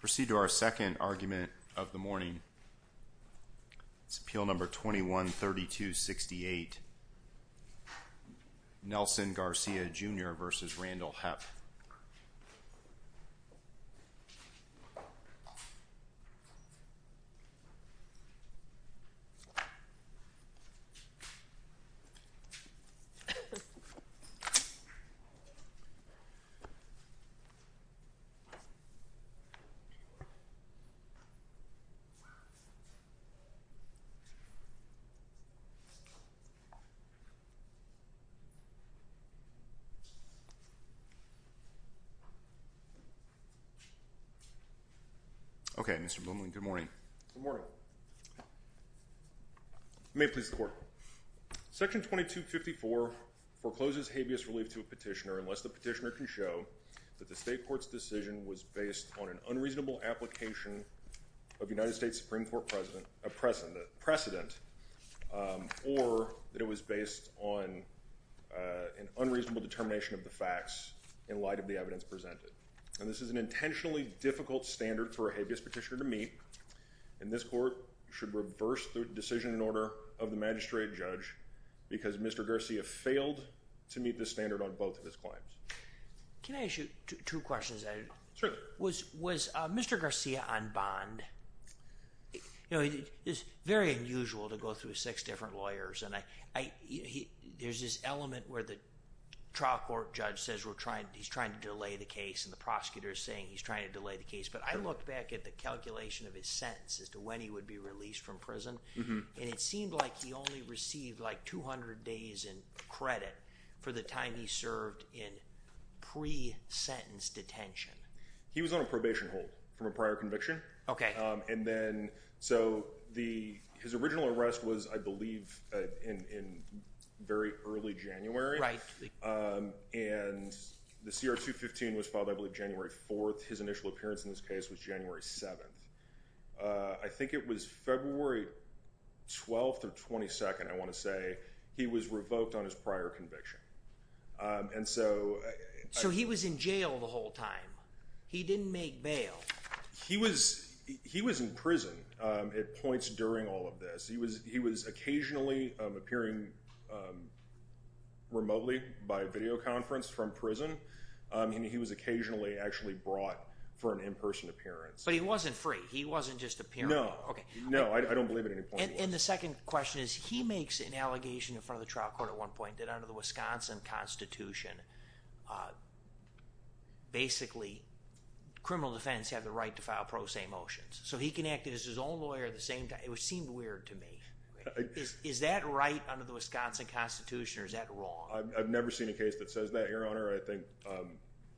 Proceed to our second argument of the morning. It's Appeal Number 21-3268. Nelson Garcia, Jr. v. Randall Hepp Proceed to our second argument of the morning. Okay, Mr. Blumling, good morning. Good morning. May it please the court. Section 2254 forecloses habeas relief to a petitioner unless the petitioner can show that the state court's decision was based on an unreasonable application of United States Supreme Court precedent or that it was based on an unreasonable determination of the facts in light of the evidence presented. And this is an intentionally difficult standard for a habeas petitioner to meet. And this court should reverse the decision in order of the magistrate judge because Mr. Garcia failed to meet this standard on both of his claims. Can I ask you two questions? Sure. Was Mr. Garcia on bond? You know, it's very unusual to go through six different lawyers. There's this element where the trial court judge says he's trying to delay the case and the prosecutor is saying he's trying to delay the case. But I looked back at the calculation of his sentence as to when he would be released from prison, and it seemed like he only received like 200 days in credit for the time he served in pre-sentence detention. He was on a probation hold from a prior conviction. Okay. And then so his original arrest was, I believe, in very early January. Right. And the CR 215 was filed, I believe, January 4th. His initial appearance in this case was January 7th. I think it was February 12th or 22nd, I want to say, he was revoked on his prior conviction. So he was in jail the whole time. He didn't make bail. He was in prison at points during all of this. He was occasionally appearing remotely by video conference from prison, and he was occasionally actually brought for an in-person appearance. But he wasn't free. He wasn't just appearing. No. No, I don't believe at any point he was. And the second question is, he makes an allegation in front of the trial court at one point that under the Wisconsin Constitution, basically criminal defense have the right to file pro se motions. So he can act as his own lawyer at the same time, which seemed weird to me. Is that right under the Wisconsin Constitution or is that wrong? I've never seen a case that says that, Your Honor. I think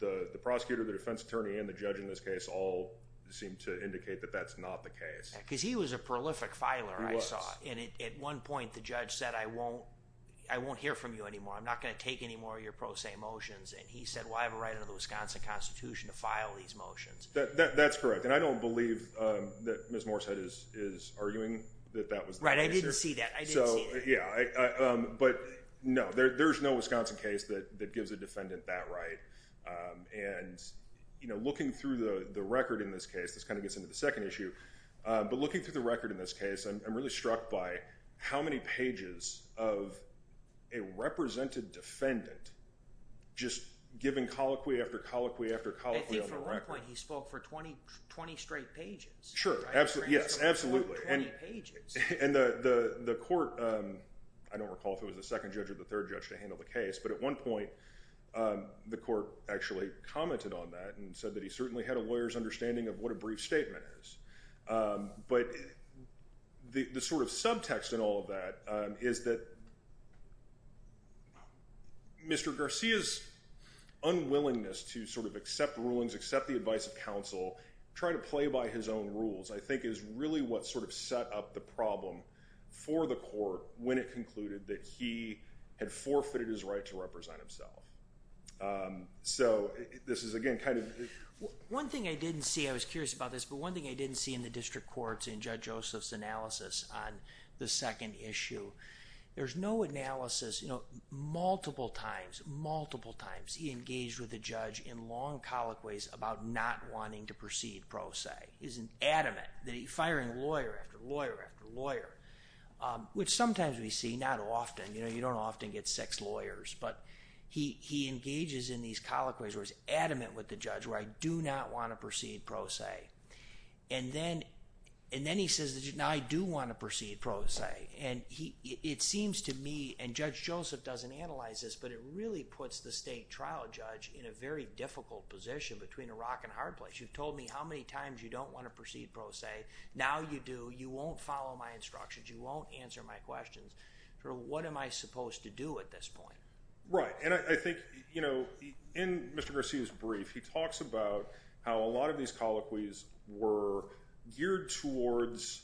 the prosecutor, the defense attorney, and the judge in this case all seem to indicate that that's not the case. Because he was a prolific filer, I saw. He was. And at one point the judge said, I won't hear from you anymore. I'm not going to take any more of your pro se motions. And he said, well, I have a right under the Wisconsin Constitution to file these motions. That's correct. And I don't believe that Ms. Morshead is arguing that that was the case. Right. I didn't see that. I didn't see that. But no, there's no Wisconsin case that gives a defendant that right. And looking through the record in this case, this kind of gets into the second issue. But looking through the record in this case, I'm really struck by how many pages of a represented defendant just giving colloquy after colloquy after colloquy on the record. I think for one point he spoke for 20 straight pages. Sure. Yes, absolutely. 20 pages. And the court, I don't recall if it was the second judge or the third judge to handle the case, but at one point the court actually commented on that and said that he certainly had a lawyer's understanding of what a brief statement is. But the sort of subtext in all of that is that Mr. Garcia's unwillingness to sort of accept rulings, accept the advice of counsel, try to play by his own rules, I think is really what sort of set up the problem for the court when it concluded that he had forfeited his right to represent himself. So this is, again, kind of... One thing I didn't see, I was curious about this, but one thing I didn't see in the district courts in Judge Joseph's analysis on the second issue, there's no analysis, you know, multiple times, multiple times, he engaged with the judge in long colloquies about not wanting to proceed pro se. He's adamant that he's firing lawyer after lawyer after lawyer, which sometimes we see, not often, you know, you don't often get sex lawyers. But he engages in these colloquies where he's adamant with the judge, where I do not want to proceed pro se. And then he says, now I do want to proceed pro se. And it seems to me, and Judge Joseph doesn't analyze this, but it really puts the state trial judge in a very difficult position between a rock and a hard place. You've told me how many times you don't want to proceed pro se. Now you do. You won't follow my instructions. You won't answer my questions. What am I supposed to do at this point? Right. And I think, you know, in Mr. Garcia's brief, he talks about how a lot of these colloquies were geared towards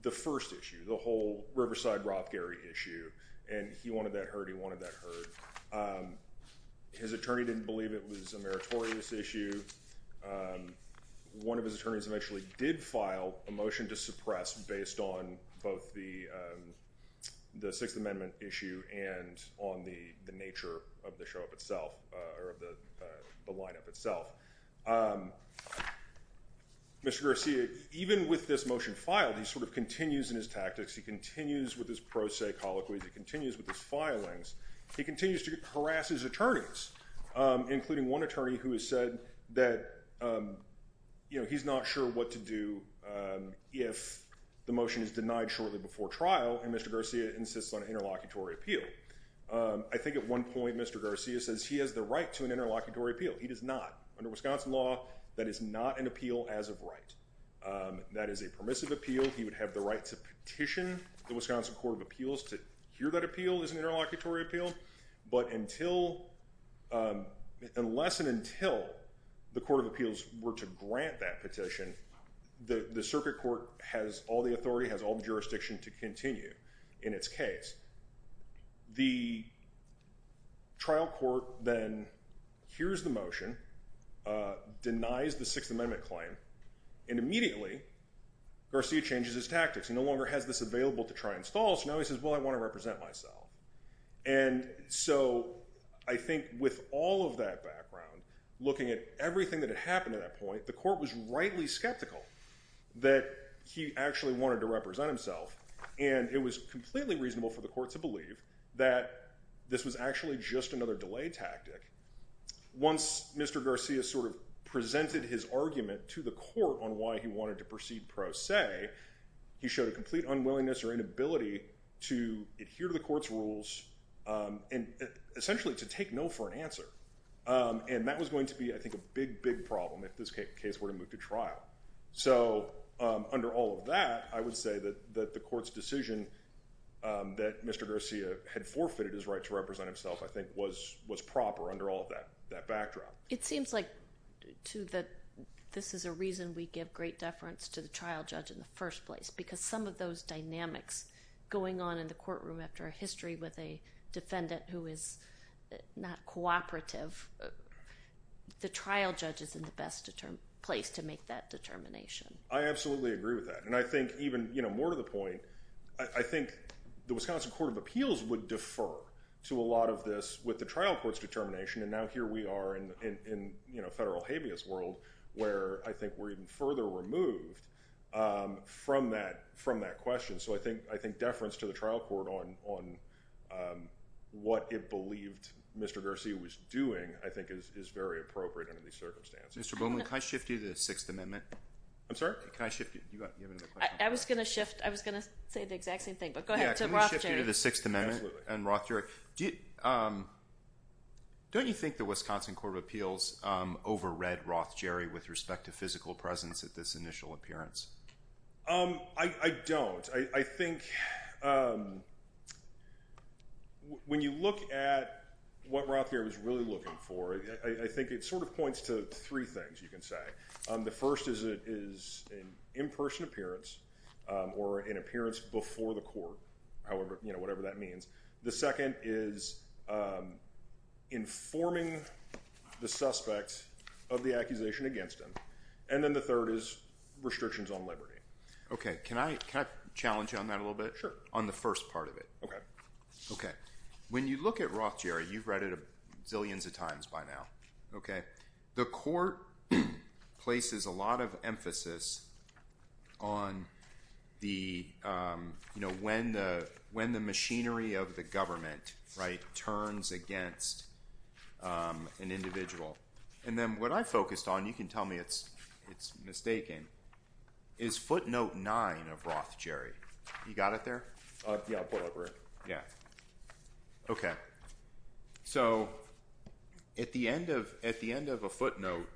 the first issue, the whole Riverside-Rothgary issue. And he wanted that heard. He wanted that heard. His attorney didn't believe it was a meritorious issue. One of his attorneys eventually did file a motion to suppress, based on both the Sixth Amendment issue and on the nature of the show itself, or of the lineup itself. Mr. Garcia, even with this motion filed, he sort of continues in his tactics. He continues with his pro se colloquies. He continues with his filings. He continues to harass his attorneys, including one attorney who has said that, you know, he's not sure what to do if the motion is denied shortly before trial, and Mr. Garcia insists on an interlocutory appeal. I think at one point Mr. Garcia says he has the right to an interlocutory appeal. He does not. Under Wisconsin law, that is not an appeal as of right. That is a permissive appeal. He would have the right to petition the Wisconsin Court of Appeals to hear that appeal as an interlocutory appeal. But unless and until the Court of Appeals were to grant that petition, the circuit court has all the authority, has all the jurisdiction to continue in its case. The trial court then hears the motion, denies the Sixth Amendment claim, and immediately Garcia changes his tactics. He no longer has this available to try and stall. So now he says, well, I want to represent myself. And so I think with all of that background, looking at everything that had happened at that point, the court was rightly skeptical that he actually wanted to represent himself, and it was completely reasonable for the court to believe that this was actually just another delay tactic. Once Mr. Garcia sort of presented his argument to the court on why he wanted to proceed pro se, he showed a complete unwillingness or inability to adhere to the court's rules and essentially to take no for an answer. And that was going to be, I think, a big, big problem if this case were to move to trial. So under all of that, I would say that the court's decision that Mr. Garcia had forfeited his right to represent himself, I think, was proper under all of that backdrop. It seems like, too, that this is a reason we give great deference to the trial judge in the first place, because some of those dynamics going on in the courtroom after a history with a defendant who is not cooperative, the trial judge is in the best place to make that determination. I absolutely agree with that. And I think even more to the point, I think the Wisconsin Court of Appeals would defer to a lot of this with the trial court's determination, and now here we are in federal habeas world where I think we're even further removed from that question. So I think deference to the trial court on what it believed Mr. Garcia was doing, I think, is very appropriate under these circumstances. Mr. Bowman, can I shift you to the Sixth Amendment? I'm sorry? Can I shift you? I was going to shift. I was going to say the exact same thing, but go ahead. Yeah, can we shift you to the Sixth Amendment? Absolutely. And, Rothger, don't you think the Wisconsin Court of Appeals overread Rothgerry with respect to physical presence at this initial appearance? I don't. I think when you look at what Rothgerry was really looking for, I think it sort of points to three things, you can say. The first is an in-person appearance or an appearance before the court, whatever that means. The second is informing the suspect of the accusation against him. And then the third is restrictions on liberty. Okay. Can I challenge you on that a little bit? Sure. On the first part of it. Okay. Okay. When you look at Rothgerry, you've read it zillions of times by now, okay? The court places a lot of emphasis on the, you know, when the machinery of the government, right, turns against an individual. And then what I focused on, you can tell me it's mistaken, is footnote nine of Rothgerry. You got it there? Yeah, I'll put it up here. Yeah. Okay. So at the end of a footnote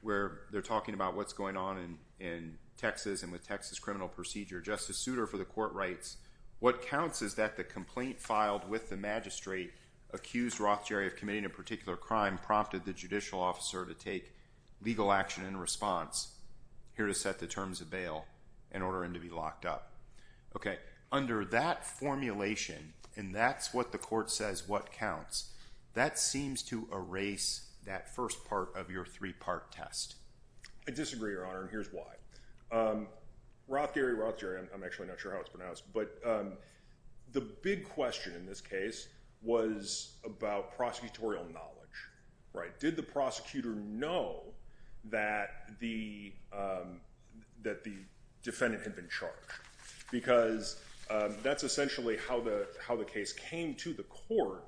where they're talking about what's going on in Texas and with Texas criminal procedure, Justice Souter for the court writes, what counts is that the complaint filed with the magistrate accused Rothgerry of committing a particular crime prompted the judicial officer to take legal action in response here to set the terms of bail in order for him to be locked up. Okay. So under that formulation, and that's what the court says, what counts? That seems to erase that first part of your three-part test. I disagree, Your Honor. And here's why. Rothgerry, Rothgerry. I'm actually not sure how it's pronounced, but the big question in this case was about prosecutorial knowledge, right? Did the prosecutor know that the, that the defendant had been charged? Because that's essentially how the, how the case came to the court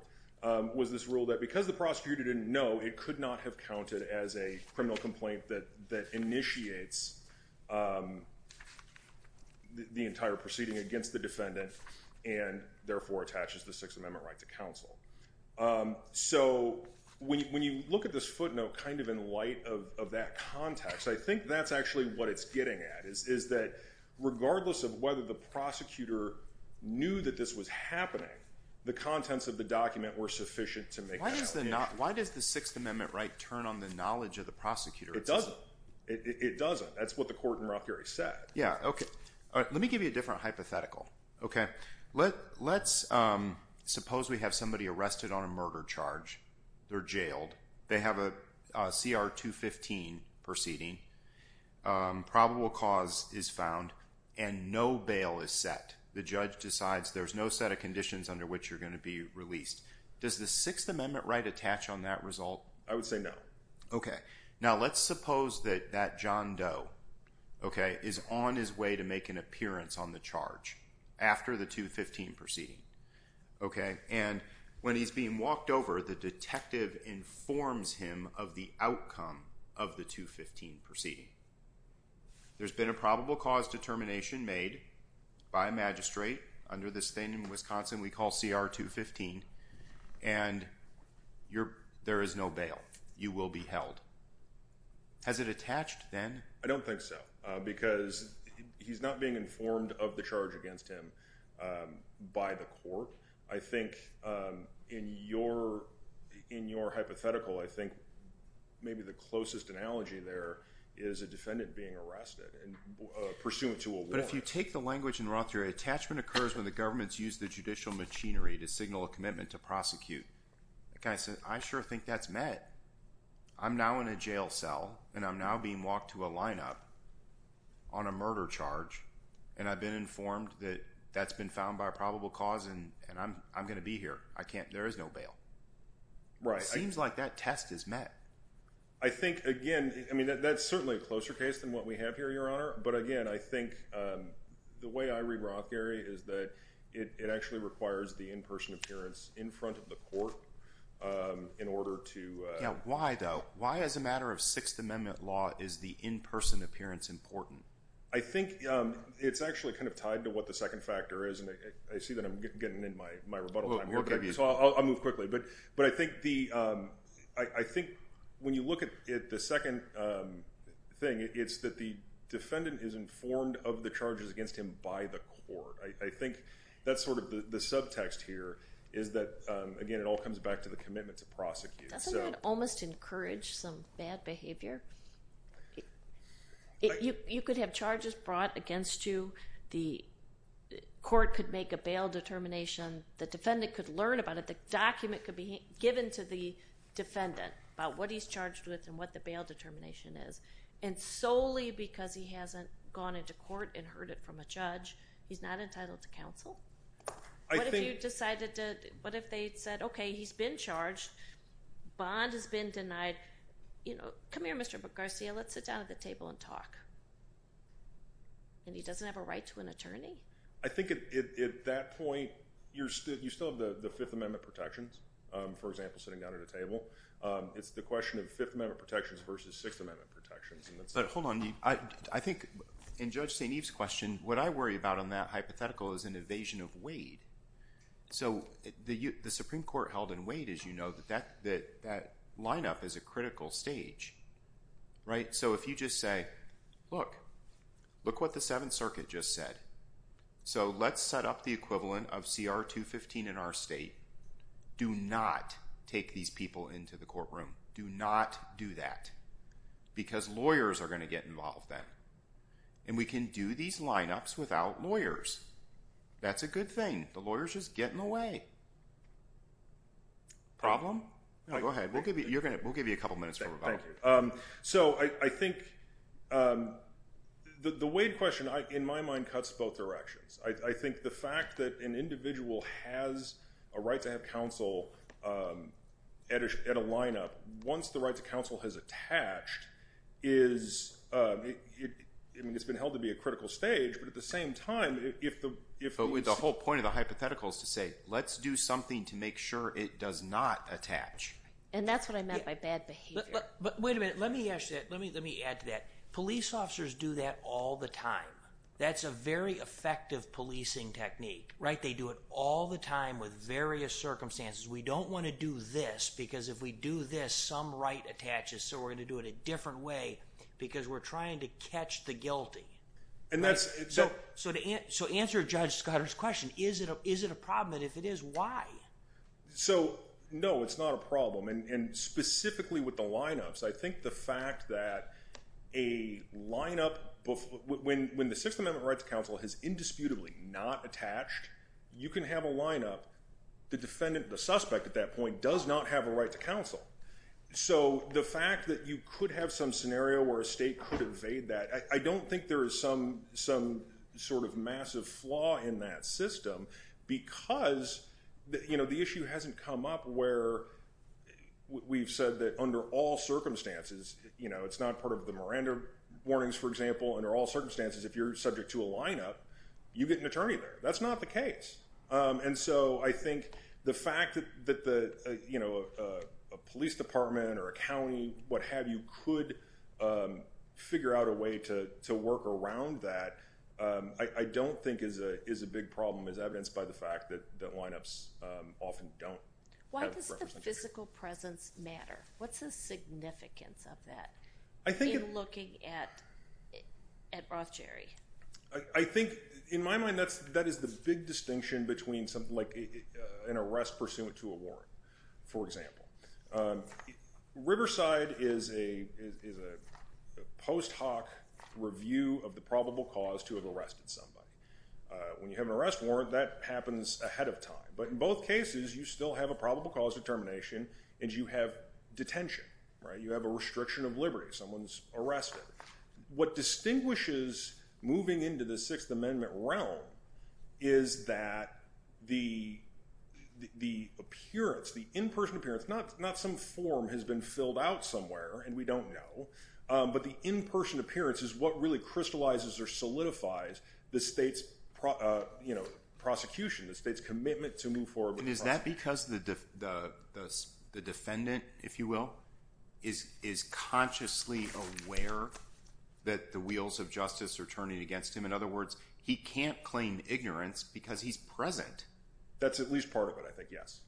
was this rule that because the prosecutor didn't know, it could not have counted as a criminal complaint that, that initiates the entire proceeding against the defendant and therefore attaches the sixth amendment right to counsel. So when you, when you look at this footnote kind of in light of that context, I think that's actually what it's getting at is, is that regardless of whether the prosecutor knew that this was happening, the contents of the document were sufficient to make. Why does the sixth amendment right turn on the knowledge of the prosecutor? It doesn't. It doesn't. That's what the court in Rothgerry said. Yeah. Okay. All right. Let me give you a different hypothetical. Okay. Let let's suppose we have somebody arrested on a murder charge. They're jailed. They have a CR two 15 proceeding. Probable cause is found and no bail is set. The judge decides there's no set of conditions under which you're going to be released. Does the sixth amendment right attach on that result? I would say no. Okay. Now let's suppose that that John Doe. Okay. Is on his way to make an appearance on the charge after the two 15 proceeding. Okay. And when he's being walked over, the detective informs him of the outcome of the two 15 proceeding. There's been a probable cause determination made by a magistrate under this thing in Wisconsin, we call CR two 15 and you're, there is no bail. You will be held. Has it attached then? I don't think so because he's not being informed of the charge against him by the court. I think, um, in your, in your hypothetical, I think maybe the closest analogy there is a defendant being arrested and pursuant to a, but if you take the language in Roth, your attachment occurs when the government's used the judicial machinery to signal a commitment to prosecute. Okay. I said, I sure think that's met. I'm now in a jail cell and I'm now being walked to a lineup on a murder charge. And I've been informed that that's been found by a probable cause. And, and I'm, I'm going to be here. I can't, there is no bail, right? Seems like that test is met. I think again, I mean, that that's certainly a closer case than what we have here, your honor. But again, I think, um, the way I read Roth Gary is that it actually requires the in-person appearance in front of the court, um, in order to, uh, why though, why as a matter of sixth amendment law is the in-person appearance important? I think, um, it's actually kind of tied to what the second factor is. And I see that I'm getting in my, my rebuttal time. So I'll, I'll move quickly. But, but I think the, um, I think when you look at it, the second, um, thing it's that the defendant is informed of the charges against him by the court. I think that's sort of the subtext here is that, um, again, it all comes back to the commitment to prosecute. Doesn't that almost encourage some bad behavior? You could have charges brought against you. The court could make a bail determination. The defendant could learn about it. The document could be given to the defendant about what he's charged with and what the bail determination is. And solely because he hasn't gone into court and heard it from a judge, he's not entitled to counsel. What if you decided to, what if they said, okay, he's been charged. Bond has been denied, you know, come here, Mr. Garcia, let's sit down at the table and talk. And he doesn't have a right to an attorney. I think at that point, you're still, you still have the, the fifth amendment protections, um, for example, sitting down at a table. Um, it's the question of fifth amendment protections versus sixth amendment protections. Hold on. I think in judge St. Eve's question, what I worry about on that hypothetical is an evasion of Wade. So the U the Supreme court held in weight is, you know, that, that, that lineup is a critical stage, right? So if you just say, look, look what the seventh circuit just said. So let's set up the equivalent of CR two 15 in our state. Do not take these people into the courtroom. Do not do that because lawyers are going to get involved then. And we can do these lineups without lawyers. That's a good thing. The lawyers just get in the way. Problem. Go ahead. We'll give you, you're going to, we'll give you a couple of minutes. Um, so I, I think, um, the, the Wade question I, in my mind cuts both directions. I think the fact that an individual has a right to have counsel, um, at a, at a lineup, once the right to counsel has attached is, um, I mean, it's been held to be a critical stage, but at the same time, if the, if the whole point of the hypothetical is to say, let's do something to make sure it does not attach. And that's what I meant by bad behavior. But wait a minute. Let me ask you that. Let me, let me add to that. Police officers do that all the time. That's a very effective policing technique, right? They do it all the time with various circumstances. We don't want to do this because if we do this, some right attaches. So we're going to do it a different way because we're trying to catch the So answer judge Scott's question. Is it a, is it a problem? And if it is, why? So, no, it's not a problem. And specifically with the lineups, I think the fact that a lineup when, when the sixth amendment right to counsel has indisputably not attached, you can have a lineup. The defendant, the suspect at that point does not have a right to counsel. So the fact that you could have some scenario where a state could evade that, I don't think there is some, some sort of massive flaw in that system because you know, the issue hasn't come up where we've said that under all circumstances, you know, it's not part of the Miranda warnings, for example, under all circumstances, if you're subject to a lineup, you get an attorney there. That's not the case. And so I think the fact that the, you know, there's a way to, to work around that. I don't think is a, is a big problem as evidenced by the fact that that lineups often don't physical presence matter. What's the significance of that? I think looking at, at Roth, Jerry, I think in my mind, that's, that is the big distinction between something like an arrest pursuant to a warrant. For example, Riverside is a, is a post hoc review of the probable cause to have arrested somebody. When you have an arrest warrant that happens ahead of time. But in both cases, you still have a probable cause determination and you have detention, right? You have a restriction of liberty. Someone's arrested. What distinguishes moving into the sixth amendment realm is that the, the appearance, the in-person appearance, not, not some form has been filled out somewhere and we don't know. But the in-person appearance is what really crystallizes or solidifies the state's, you know, prosecution, the state's commitment to move forward. And is that because the, the, the, the defendant, if you will, is, is consciously aware that the wheels of justice are turning against him. In other words, he can't claim ignorance because he's present. That's at least part of it. I think, yes.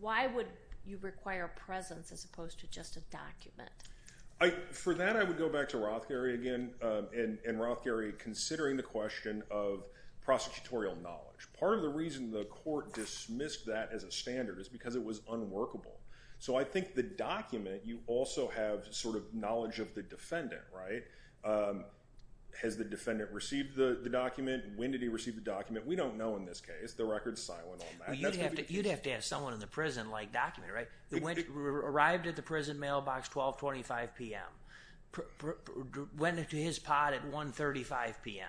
Why would you require a presence as opposed to just a document? I, for that, I would go back to Roth, Gary again, and, and Roth Gary considering the question of prosecutorial knowledge. Part of the reason the court dismissed that as a standard is because it was unworkable. So I think the document, you also have sort of knowledge of the defendant, right? Has the defendant received the document? When did he receive the document? We don't know in this case, the record's silent on that. You'd have to, you'd have to ask someone in the prison like document, right? It went, arrived at the prison mailbox, 1225 PM, went into his pod at 135 PM,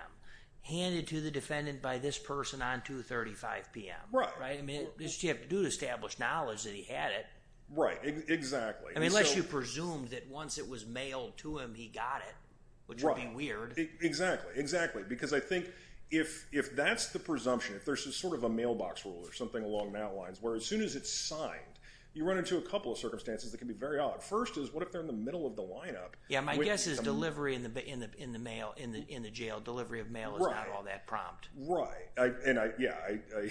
handed to the defendant by this person on 235 PM. Right. I mean, this you have to do to establish knowledge that he had it. Right. Exactly. I mean, unless you presume that once it was mailed to him, he got it, which would be weird. Exactly. Exactly. Because I think if, if that's the presumption, if there's some sort of a mailbox rule or something along that lines, where as soon as it's signed, you run into a couple of circumstances. That can be very odd. First is what if they're in the middle of the lineup? Yeah. My guess is delivery in the, in the, in the mail, in the, in the jail, delivery of mail is not all that prompt. Right. And I, yeah, I,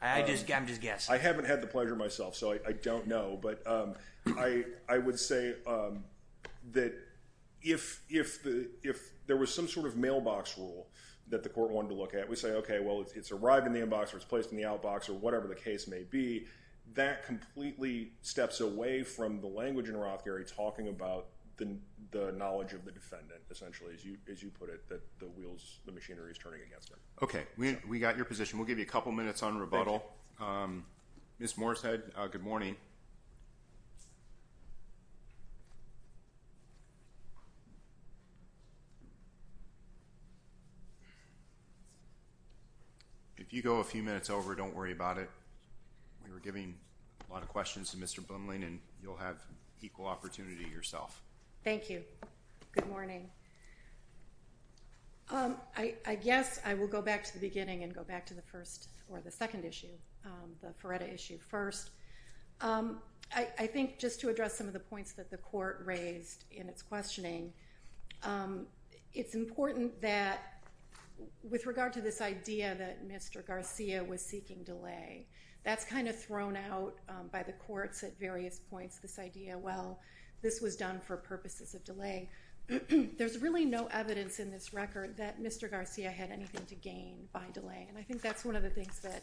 I, I just, I'm just guessing. I haven't had the pleasure myself, so I don't know, but I, I would say that if, if the, if there was some sort of mailbox rule that the court wanted to look at, we say, okay, well, it's, it's arrived in the inbox, or it's placed in the outbox or whatever the case may be. That completely steps away from the language in Roth. Gary talking about the, the knowledge of the defendant, essentially, as you, as you put it, that the wheels, the machinery is turning against her. Okay. We, we got your position. We'll give you a couple of minutes on rebuttal. Ms. Morrishead. Good morning. If you go a few minutes over, don't worry about it. We were giving a lot of questions to Mr. Blumling and you'll have equal opportunity yourself. Thank you. Good morning. I guess I will go back to the beginning and go back to the first or the second issue. The Feretta issue first. I, I think just to address some of the points that the court raised in its questioning it's important that with regard to this idea that Mr. Garcia was seeking delay, that's kind of thrown out by the courts at various points, this idea, well, this was done for purposes of delay. There's really no evidence in this record that Mr. Garcia had anything to gain by delay. And I think that's one of the things that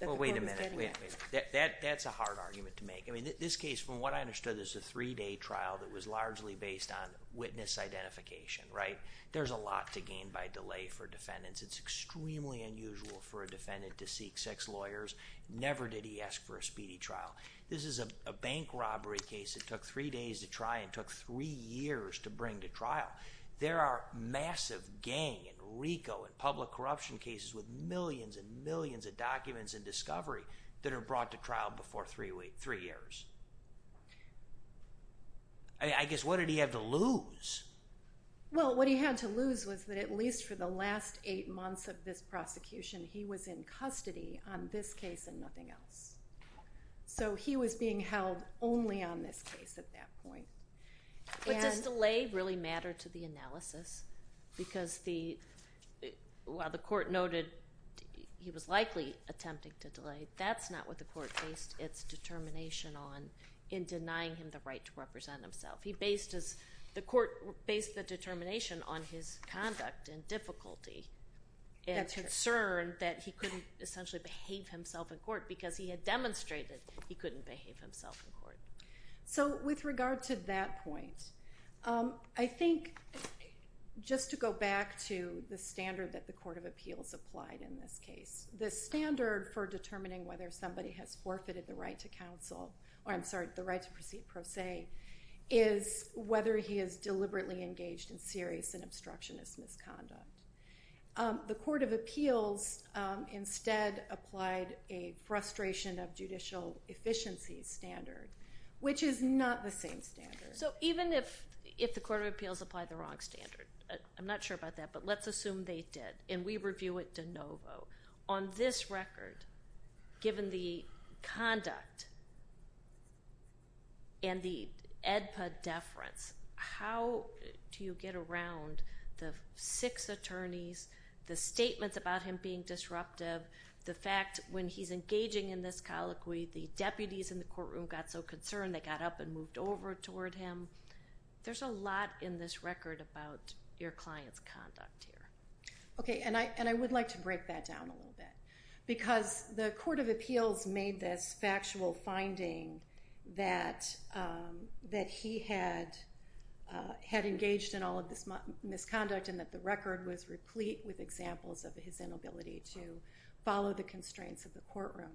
the court was getting at. Well, wait a minute. That, that's a hard argument to make. I mean, this case, from what I understood, there's a three day trial that was largely based on witness identification, right? There's a lot to gain by delay for defendants. It's extremely unusual for a defendant to seek six lawyers. Never did he ask for a speedy trial. This is a bank robbery case. It took three days to try and took three years to bring to trial. There are massive gang and Rico and public corruption cases with millions and millions of documents and discovery that are brought to trial before three years. I guess what did he have to lose? Well, what he had to lose was that at least for the last eight months of this prosecution, he was in custody on this case and nothing else. So he was being held only on this case at that point. But does delay really matter to the analysis? Because the, while the court noted he was likely attempting to delay, that's not what the court based its determination on in denying him the right to represent himself. He based his, the court based the determination on his conduct and difficulty and concern that he couldn't essentially behave himself in court because he had demonstrated he couldn't behave himself in court. So with regard to that point I think just to go back to the standard that the court of appeals applied in this case, the standard for determining whether somebody has forfeited the right to counsel or I'm sorry, the right to proceed pro se is whether he is deliberately engaged in serious and obstructionist misconduct. The court of appeals instead applied a frustration of judicial efficiency standard, which is not the same standard. So even if, if the court of appeals applied the wrong standard, I'm not sure about that, but let's assume they did. And we review it de novo. On this record, given the conduct and the EDPA deference, how do you get around the six attorneys, the statements about him being disruptive, the fact when he's engaging in this colloquy, the deputies in the courtroom got so concerned they got up and moved over toward him. There's a lot in this record about your client's conduct here. Okay. And I, and I would like to break that down a little bit because the court of appeals made this factual finding that, um, that he had, uh, had engaged in all of this misconduct and that the record was replete with follow the constraints of the courtroom.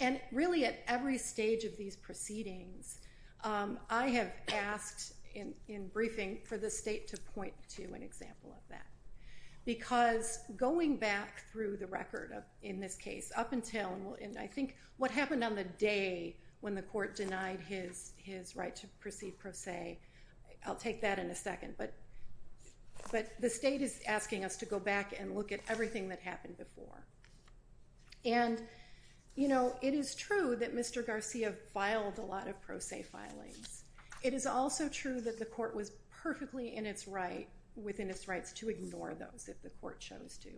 And really at every stage of these proceedings, um, I have asked in briefing for the state to point to an example of that because going back through the record of in this case up until, and I think what happened on the day when the court denied his, his right to proceed pro se, I'll take that in a second, but, but the state is asking us to go back and look at everything that happened before. And, you know, it is true that Mr. Garcia filed a lot of pro se filings. It is also true that the court was perfectly in its right within its rights to ignore those. If the court shows to,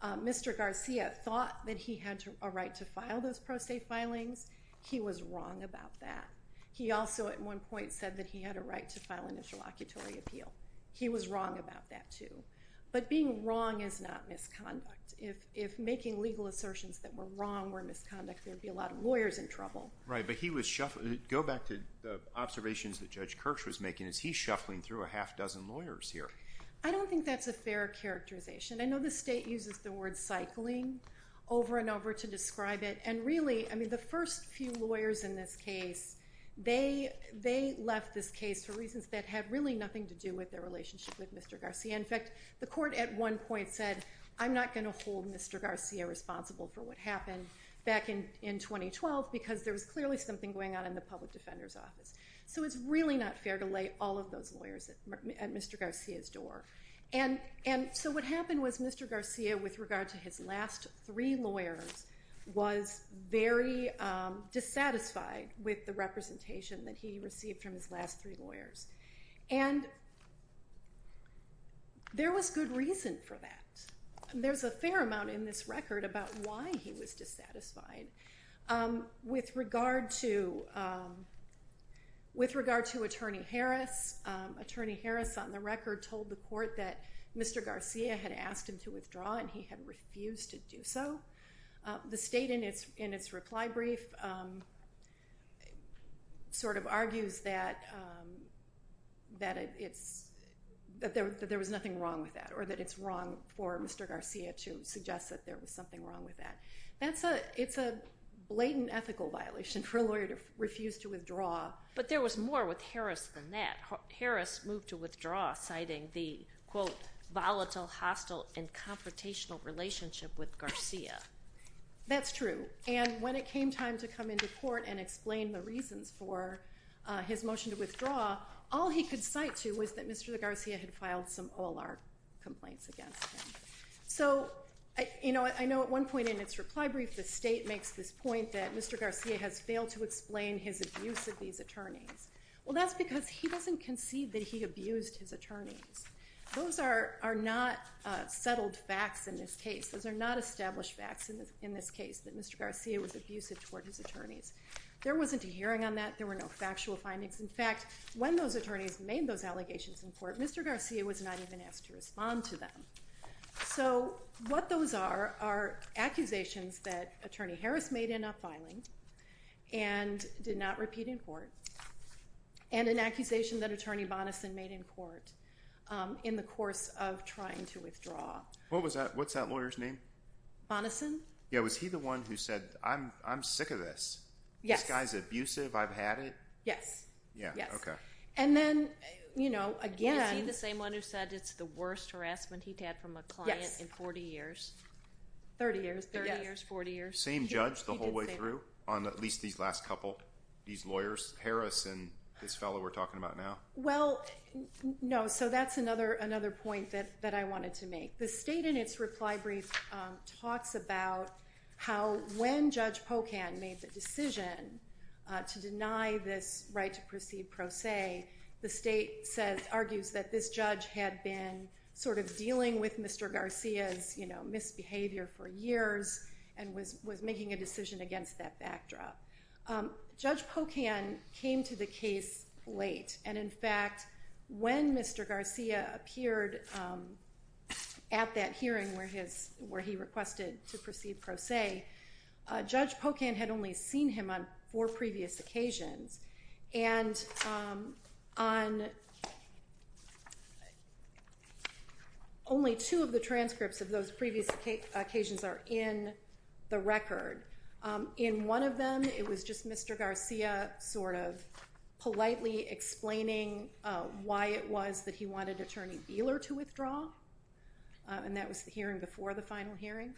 uh, Mr. Garcia thought that he had a right to file those pro se filings. He was wrong about that. He also at one point said that he had a right to file an interlocutory appeal. He was wrong about that too. But being wrong is not misconduct. If, if making legal assertions that were wrong were misconduct, there'd be a lot of lawyers in trouble, right? But he was shuffling. Go back to the observations that judge Kirch was making as he's shuffling through a half dozen lawyers here. I don't think that's a fair characterization. I know the state uses the word cycling over and over to describe it. And really, I mean, the first few lawyers in this case, they, they left this case for reasons that had really nothing to do with their relationship with Mr. Garcia. In fact, the court at one point said, I'm not going to hold Mr. Garcia responsible for what happened back in, in 2012 because there was clearly something going on in the public defender's office. So it's really not fair to lay all of those lawyers at Mr. Garcia's door. And, and so what happened was Mr. Garcia, with regard to his last three lawyers was very, um, dissatisfied with the representation that he received from his last three lawyers. And there was good reason for that. And there's a fair amount in this record about why he was dissatisfied, um, with regard to, um, with regard to attorney Harris. Um, attorney Harris on the record told the court that Mr. Garcia had asked him to withdraw and he had refused to do so. Um, the state in its, in its reply brief, um, sort of argues that, um, that it's, that there, that there was nothing wrong with that or that it's wrong for Mr. Garcia to suggest that there was something wrong with that. That's a, it's a blatant ethical violation for a lawyer to refuse to withdraw. But there was more with Harris than that. Harris moved to withdraw citing the quote volatile, hostile and confrontational relationship with Garcia. That's true. And when it came time to come into court and explain the reasons for, uh, his motion to withdraw, all he could cite to was that Mr. Garcia had filed some OLR complaints against him. So I, you know, I know at one point in its reply brief, the state makes this point that Mr. Garcia has failed to explain his abuse of these attorneys. Well, that's because he doesn't concede that he abused his attorneys. Those are, are not, uh, settled facts in this case. Those are not established facts in this, in this case, that Mr. Garcia was abusive toward his attorneys. There wasn't a hearing on that. There were no factual findings. In fact, when those attorneys made those allegations in court, Mr. Garcia was not even asked to respond to them. So what those are, are accusations that attorney Harris made in a filing and did not repeat in court and an accusation that attorney Bonnison made in court, um, in the course of trying to withdraw. What was that? What's that lawyer's name? Bonnison. Yeah. Was he the one who said, I'm, I'm sick of this guy's abusive. I've had it. Yes. Yeah. Okay. And then, you know, again, the same one who said it's the worst harassment he'd had from a client in 40 years, 30 years, 30 years, 40 years, same judge, the whole way through on at least these last couple, these lawyers, Harris and this fellow we're talking about now. Well, no. So that's another, another point that, that I wanted to make. The state in its reply brief talks about how, when judge Pocan made the decision to deny this right to proceed pro se, the state says, argues that this judge had been sort of dealing with Mr. Garcia's, you know, misbehavior for years and was, was making a decision against that backdrop. Um, judge Pocan came to the case late. And in fact, when Mr. Garcia appeared, um, at that hearing where his, where he requested to proceed pro se, uh, judge Pocan had only seen him on four previous occasions and, um, on only two of the transcripts of those previous occasions are in the record. Um, in one of them, it was just Mr. Garcia sort of politely explaining, uh, why it was that he wanted attorney Beeler to withdraw. Uh, and that was the hearing before the final hearing.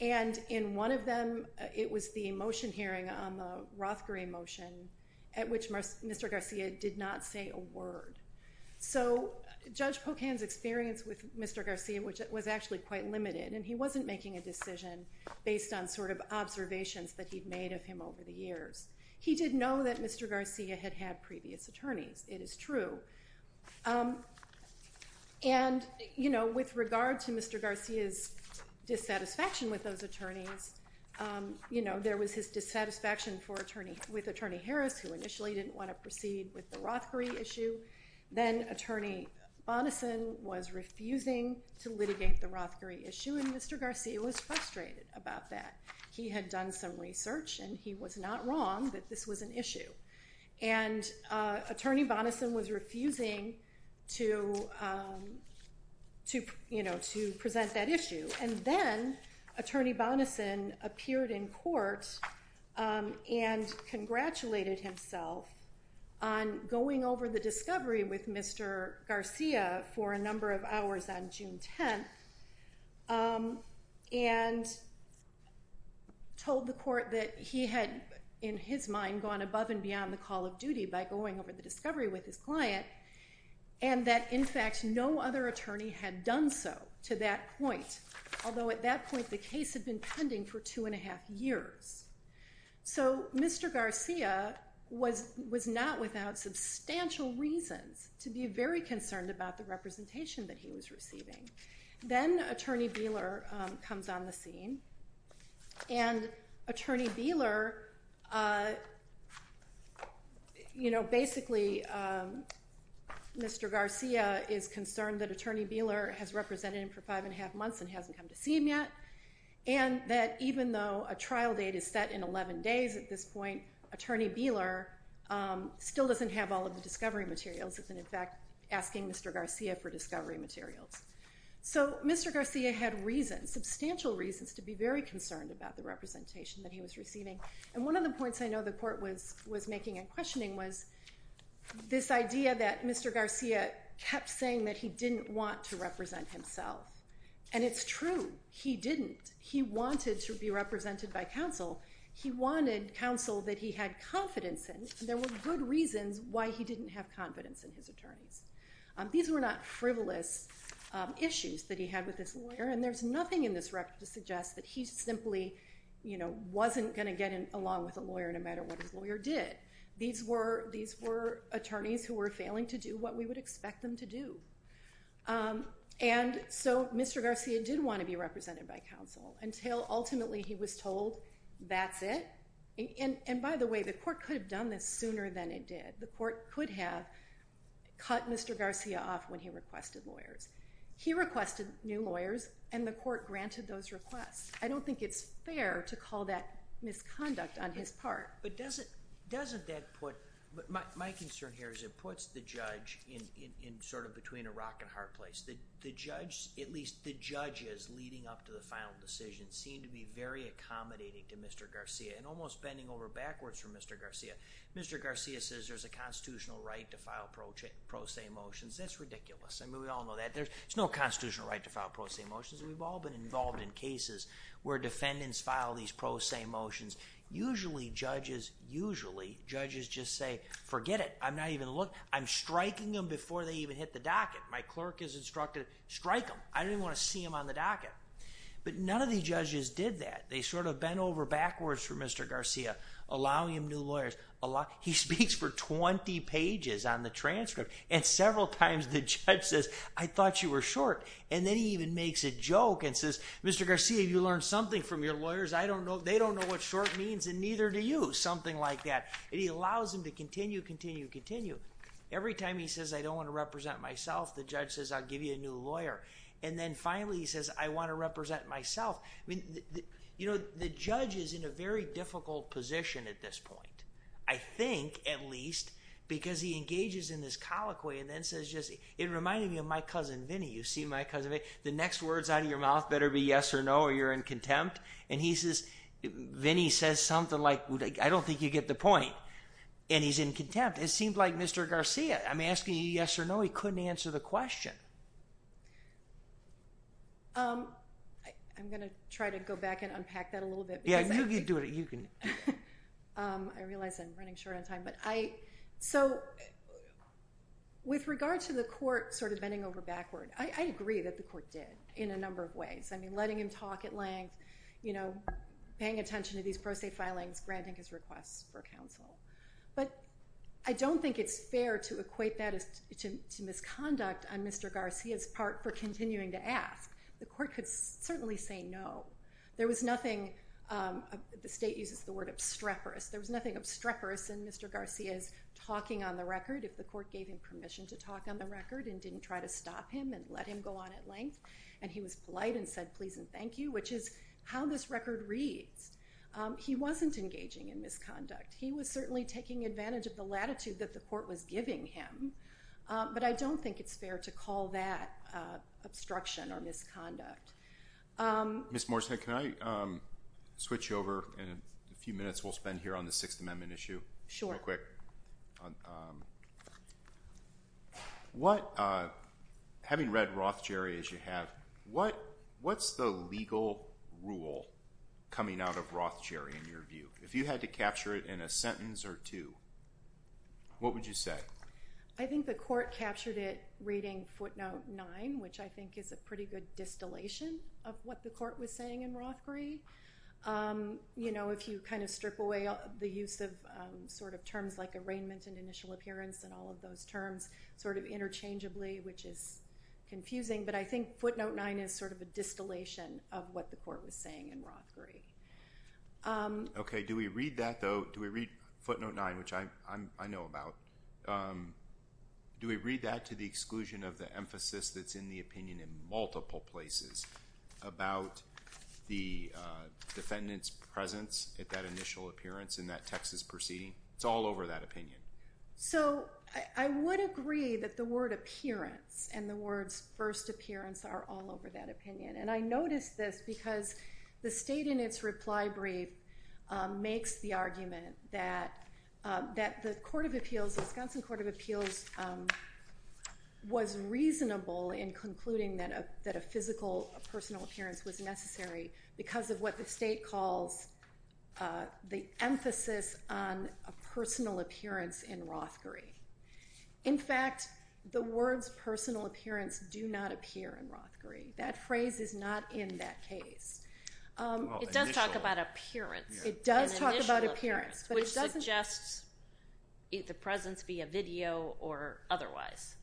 And in one of them, it was the motion hearing on the Roth green motion at which Mr. Garcia did not say a word. So judge Pocan's experience with Mr. Garcia, which was actually quite limited and he wasn't making a decision based on sort of observations that he'd made of him over the years. He didn't know that Mr. Garcia had had previous attorneys. It is true. Um, and you know, with regard to Mr. Garcia's dissatisfaction with those attorneys, um, you know, there was his dissatisfaction for attorney with attorney Harris, who initially didn't want to proceed with the Roth green issue. Then attorney Bonnison was refusing to litigate the Roth green issue. And Mr. Garcia was frustrated about that. He had done some research and he was not wrong that this was an issue. And, uh, attorney Bonnison was refusing to, um, to, you know, to present that issue. And then attorney Bonnison appeared in court, um, and congratulated himself on going over the discovery with Mr. Garcia for a number of hours on June 10th. Um, and told the court that he had in his mind, gone above and beyond the call of duty by going over the discovery with his client. And that in fact, no other attorney had done so to that point. Although at that point the case had been pending for two and a half years. So Mr. Garcia was, was not without substantial reasons to be very concerned about the representation that he was receiving. Then attorney Beeler, um, comes on the scene and attorney Beeler, uh, you know, basically, um, Mr. Garcia is concerned that attorney Beeler has represented him for five and a half months and hasn't come to see him yet. And that even though a trial date is set in 11 days at this point, attorney Beeler, um, still doesn't have all of the discovery materials. And in fact, asking Mr. Garcia for discovery materials. So Mr. Garcia had reasons, substantial reasons to be very concerned about the representation that he was receiving. And one of the points I know the court was, was making and questioning was this idea that Mr. Garcia kept saying that he didn't want to represent himself. And it's true. He didn't, he wanted to be represented by counsel. He wanted counsel that he had confidence in. There were good reasons why he didn't have confidence in his attorneys. These were not frivolous issues that he had with this lawyer. And there's nothing in this record to suggest that he's simply, you know, wasn't going to get in along with a lawyer no matter what his lawyer did. These were, these were attorneys who were failing to do what we would expect them to do. Um, and so Mr. Garcia did want to be represented by counsel until ultimately he was told that's it. And, and by the way, the court could have done this sooner than it did. The court could have cut Mr. Garcia off when he requested lawyers. He requested new lawyers and the court granted those requests. I don't think it's fair to call that misconduct on his part. But doesn't, doesn't that put, but my, my concern here is it puts the judge in, in sort of between a rock and hard place that the judge, at least the judges leading up to the final decision seemed to be very accommodating to Mr. Garcia. Mr. Garcia says there's a constitutional right to file pro pro se motions. That's ridiculous. I mean, we all know that there's, there's no constitutional right to file pro se motions. And we've all been involved in cases where defendants file these pro se motions. Usually judges, usually judges just say, forget it. I'm not even looking. I'm striking them before they even hit the docket. My clerk is instructed, strike them. I didn't want to see him on the docket, but none of these judges did that. They sort of bent over backwards for Mr. Garcia. I've seen him speak to new lawyers. A lot. He speaks for 20 pages on the transcript and several times the judge says, I thought you were short. And then he even makes a joke and says, Mr. Garcia, you learned something from your lawyers. I don't know. They don't know what short means. And neither do you, something like that. It allows him to continue, continue, continue. Every time he says, I don't want to represent myself. The judge says, I'll give you a new lawyer. And then finally he says, I want to represent myself. The judge is in a very difficult position at this point. I think at least because he engages in this colloquy and then says, it reminded me of my cousin, Vinnie. You see my cousin, the next words out of your mouth better be yes or no, or you're in contempt. And he says, Vinnie says something like, I don't think you get the point. And he's in contempt. It seemed like Mr. Garcia, I'm asking you yes or no. He couldn't answer the question. I'm going to try to go back and unpack that a little bit. Yeah, you can do it. You can. I realize I'm running short on time, but I, so with regard to the court, sort of bending over backward, I agree that the court did in a number of ways. I mean, letting him talk at length, you know, paying attention to these pro se filings, granting his requests for counsel. But I don't think it's fair to equate that as to misconduct on Mr. Garcia's part for continuing to ask. The court could certainly say no. There was nothing, the state uses the word obstreperous. There was nothing obstreperous in Mr. Garcia's talking on the record. If the court gave him permission to talk on the record and didn't try to stop him and let him go on at length. And he was polite and said, please and thank you, which is how this record reads. He wasn't engaging in misconduct. He was certainly taking advantage of the latitude that the court was giving him. Um, but I don't think it's fair to call that, uh, obstruction or misconduct. Um, Miss Morrison, can I, um, switch over in a few minutes? We'll spend here on the sixth amendment issue real quick. Um, what, uh, having read Roth, Jerry, as you have, what, what's the legal rule coming out of Roth, Jerry, in your view, if you had to capture it in a sentence or two, what would you say? I think the court captured it reading footnote nine, which I think is a pretty good distillation of what the court was saying in Roth, Gray. Um, you know, if you kind of strip away the use of sort of terms like arraignment and initial appearance and all of those terms sort of interchangeably, which is confusing, but I think footnote nine is sort of a distillation of what the court was saying in Roth, Gray. Um, okay. Do we read that though? Do we read footnote nine, which I, I'm, I know about, um, do we read that to the exclusion of the emphasis that's in the opinion in multiple places about the, uh, defendant's presence at that initial appearance in that Texas proceeding? It's all over that opinion. So I would agree that the word appearance and the words first appearance are all over that opinion. And I noticed this because the state in its reply brief, um, that the court of appeals, Wisconsin court of appeals, um, was reasonable in concluding that, uh, that a physical personal appearance was necessary because of what the state calls, uh, the emphasis on a personal appearance in Roth, Gray. In fact, the words personal appearance do not appear in Roth, Gray. That phrase is not in that case. Um, it does talk about appearance. It does talk about appearance, but it doesn't just eat the presence via video or otherwise.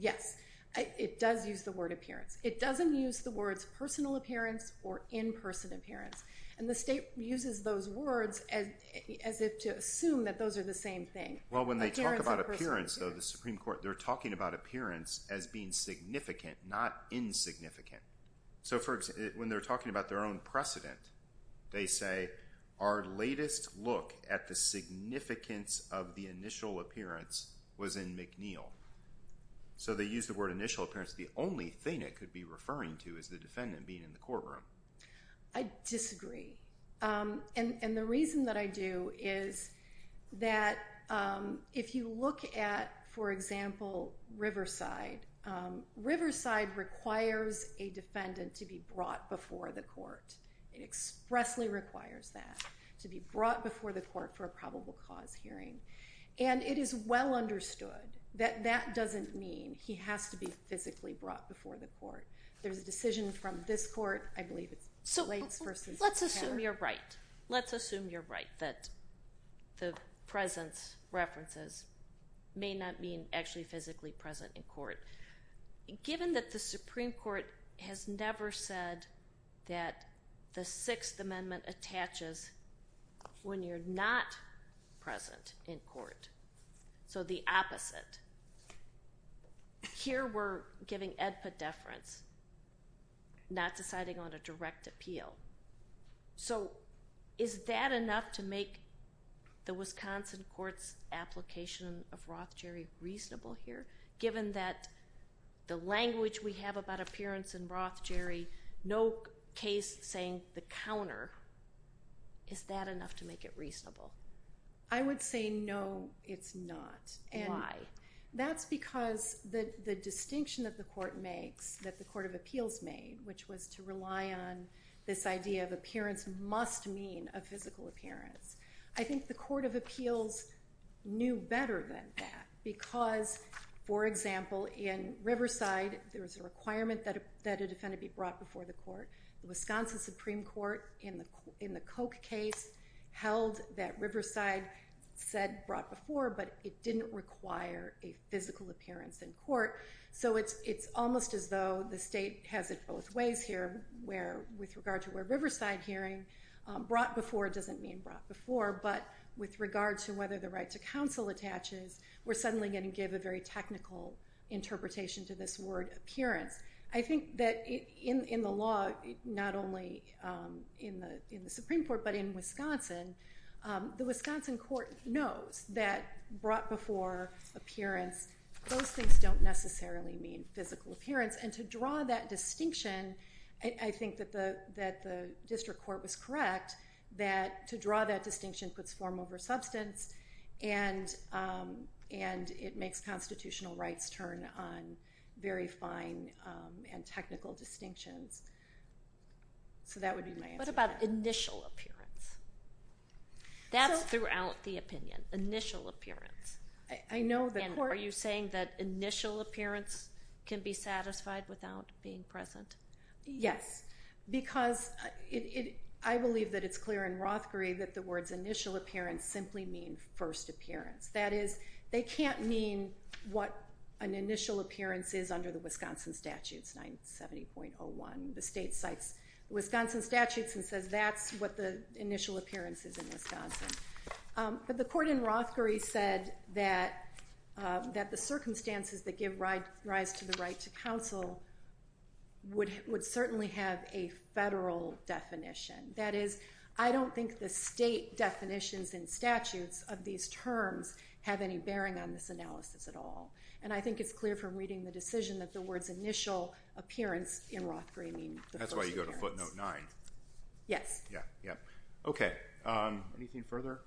Yes. I, it does use the word appearance. It doesn't use the words personal appearance or in person appearance. And the state uses those words as, as if to assume that those are the same thing. Well, when they talk about appearance though, the Supreme court, they're talking about appearance as being significant, not insignificant. So for example, when they're talking about their own precedent, they say, our latest look at the significance of the initial appearance was in McNeil. So they use the word initial appearance. The only thing it could be referring to is the defendant being in the courtroom. I disagree. Um, and, and the reason that I do is that, um, if you look at, for example, Riverside, um, Riverside requires a defendant to be brought before the court. It expressly requires that to be brought before the court for a probable cause hearing. And it is well understood that that doesn't mean he has to be physically brought before the court. There's a decision from this court, I believe it's Blakes versus. Let's assume you're right. Let's assume you're right. That the presence references may not mean actually physically present in court. Given that the Supreme court has never said that the sixth amendment attaches when you're not present in court. So the opposite here, we're giving Ed put deference not deciding on a direct appeal. So is that enough to make the Wisconsin court's application of Roth Jerry reasonable here, given that the language we have about appearance and Roth Jerry, no case saying the counter is that enough to make it reasonable? I would say no, it's not. And that's because the distinction that the court makes that the court of appeals made, which was to rely on this idea of appearance must mean a physical appearance. I think the court of appeals knew better than that because for example, in Riverside, there was a requirement that a defendant be brought before the court, the Wisconsin Supreme court in the, in the Coke case held that Riverside said brought before, but it didn't require a physical appearance in court. So it's, it's almost as though the state has it both ways here where with regard to where Riverside hearing brought before, it doesn't mean brought before, but with regard to whether the right to counsel attaches, we're suddenly going to give a very technical interpretation to this word appearance. I think that in, in the law, not only, um, in the, in the Supreme court, but in Wisconsin, um, the Wisconsin court knows that brought before appearance, those things don't necessarily mean physical appearance. And to draw that distinction, I think that the, that the district court was correct that to draw that distinction puts form over substance and, um, and it makes constitutional rights turn on very fine, um, and technical distinctions. So that would be my answer. What about initial appearance? That's throughout the opinion, initial appearance. I know the court, are you saying that initial appearance can be satisfied without being present? Yes, because it, I believe that it's clear in Rothkrieg that the words initial appearance simply mean first appearance. That is they can't mean what an initial appearance is under the Wisconsin statutes, 970.01. The state cites Wisconsin statutes and says, that's what the initial appearance is in Wisconsin. Um, but the court in Rothkrieg said that, um, that the circumstances that give rise to the right to counsel, would, would certainly have a federal definition. That is, I don't think the state definitions and statutes of these terms have any bearing on this analysis at all. And I think it's clear from reading the decision that the words initial appearance in Rothkrieg mean. That's why you go to footnote nine. Yes. Yeah. Yeah. Okay. Um, anything further?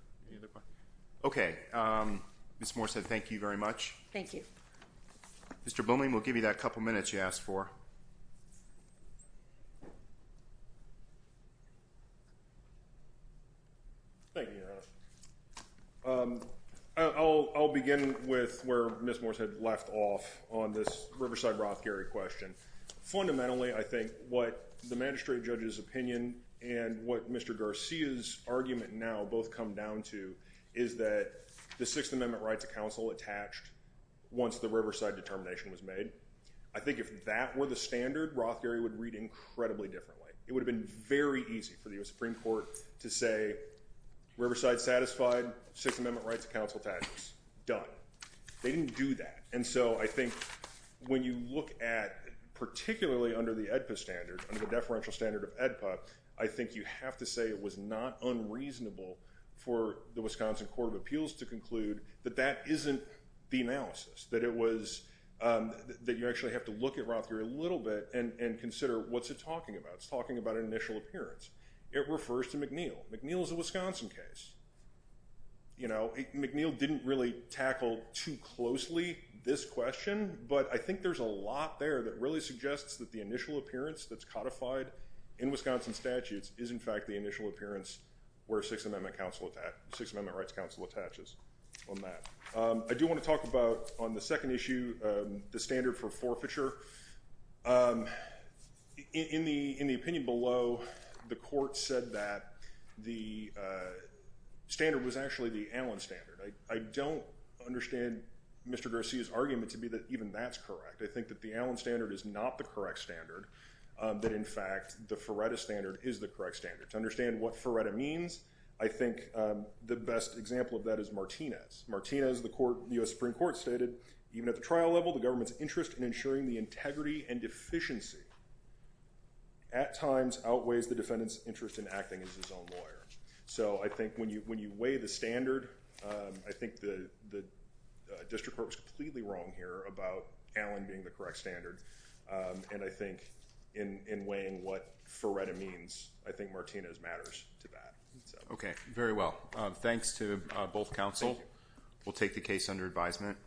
Okay. Um, Ms. Moore said, thank you very much. Thank you. Mr. Booming. We'll give you that couple of minutes you asked for. Thank you. Um, I'll, I'll begin with where Ms. Morris had left off on this Riverside, Roth, Gary question. Fundamentally, I think what the magistrate judge's opinion and what Mr. Garcia's argument now both come down to is that the sixth amendment rights of determination was made. I think if that were the standard Roth, Gary would read incredibly differently. It would have been very easy for the U.S. Supreme court to say Riverside satisfied six amendment rights of counsel taxes done. They didn't do that. And so I think when you look at, particularly under the EDPA standard, under the deferential standard of EDPA, I think you have to say it was not unreasonable for the Wisconsin court of the analysis that it was, um, that you actually have to look at Roth through a little bit and, and consider what's it talking about. It's talking about an initial appearance. It refers to McNeil. McNeil is a Wisconsin case. You know, McNeil didn't really tackle too closely this question, but I think there's a lot there that really suggests that the initial appearance that's codified in Wisconsin statutes is in fact, the initial appearance where six amendment council at that six amendment rights council attaches on that. Um, I do want to talk about on the second issue, um, the standard for forfeiture, um, in the, in the opinion below the court said that the, uh, standard was actually the Allen standard. I, I don't understand Mr. Garcia's argument to be that even that's correct. I think that the Allen standard is not the correct standard. Um, that in fact the Faretta standard is the correct standard to understand what Martinez Martinez, the court, the U S Supreme court stated, even at the trial level, the government's interest in ensuring the integrity and deficiency at times outweighs the defendant's interest in acting as his own lawyer. So I think when you, when you weigh the standard, um, I think the, the, uh, district court was completely wrong here about Allen being the correct standard. Um, and I think in, in weighing what Faretta means, I think Martinez matters to that. Okay. Very well. Um, thanks to both counsel. We'll take the case under advisement.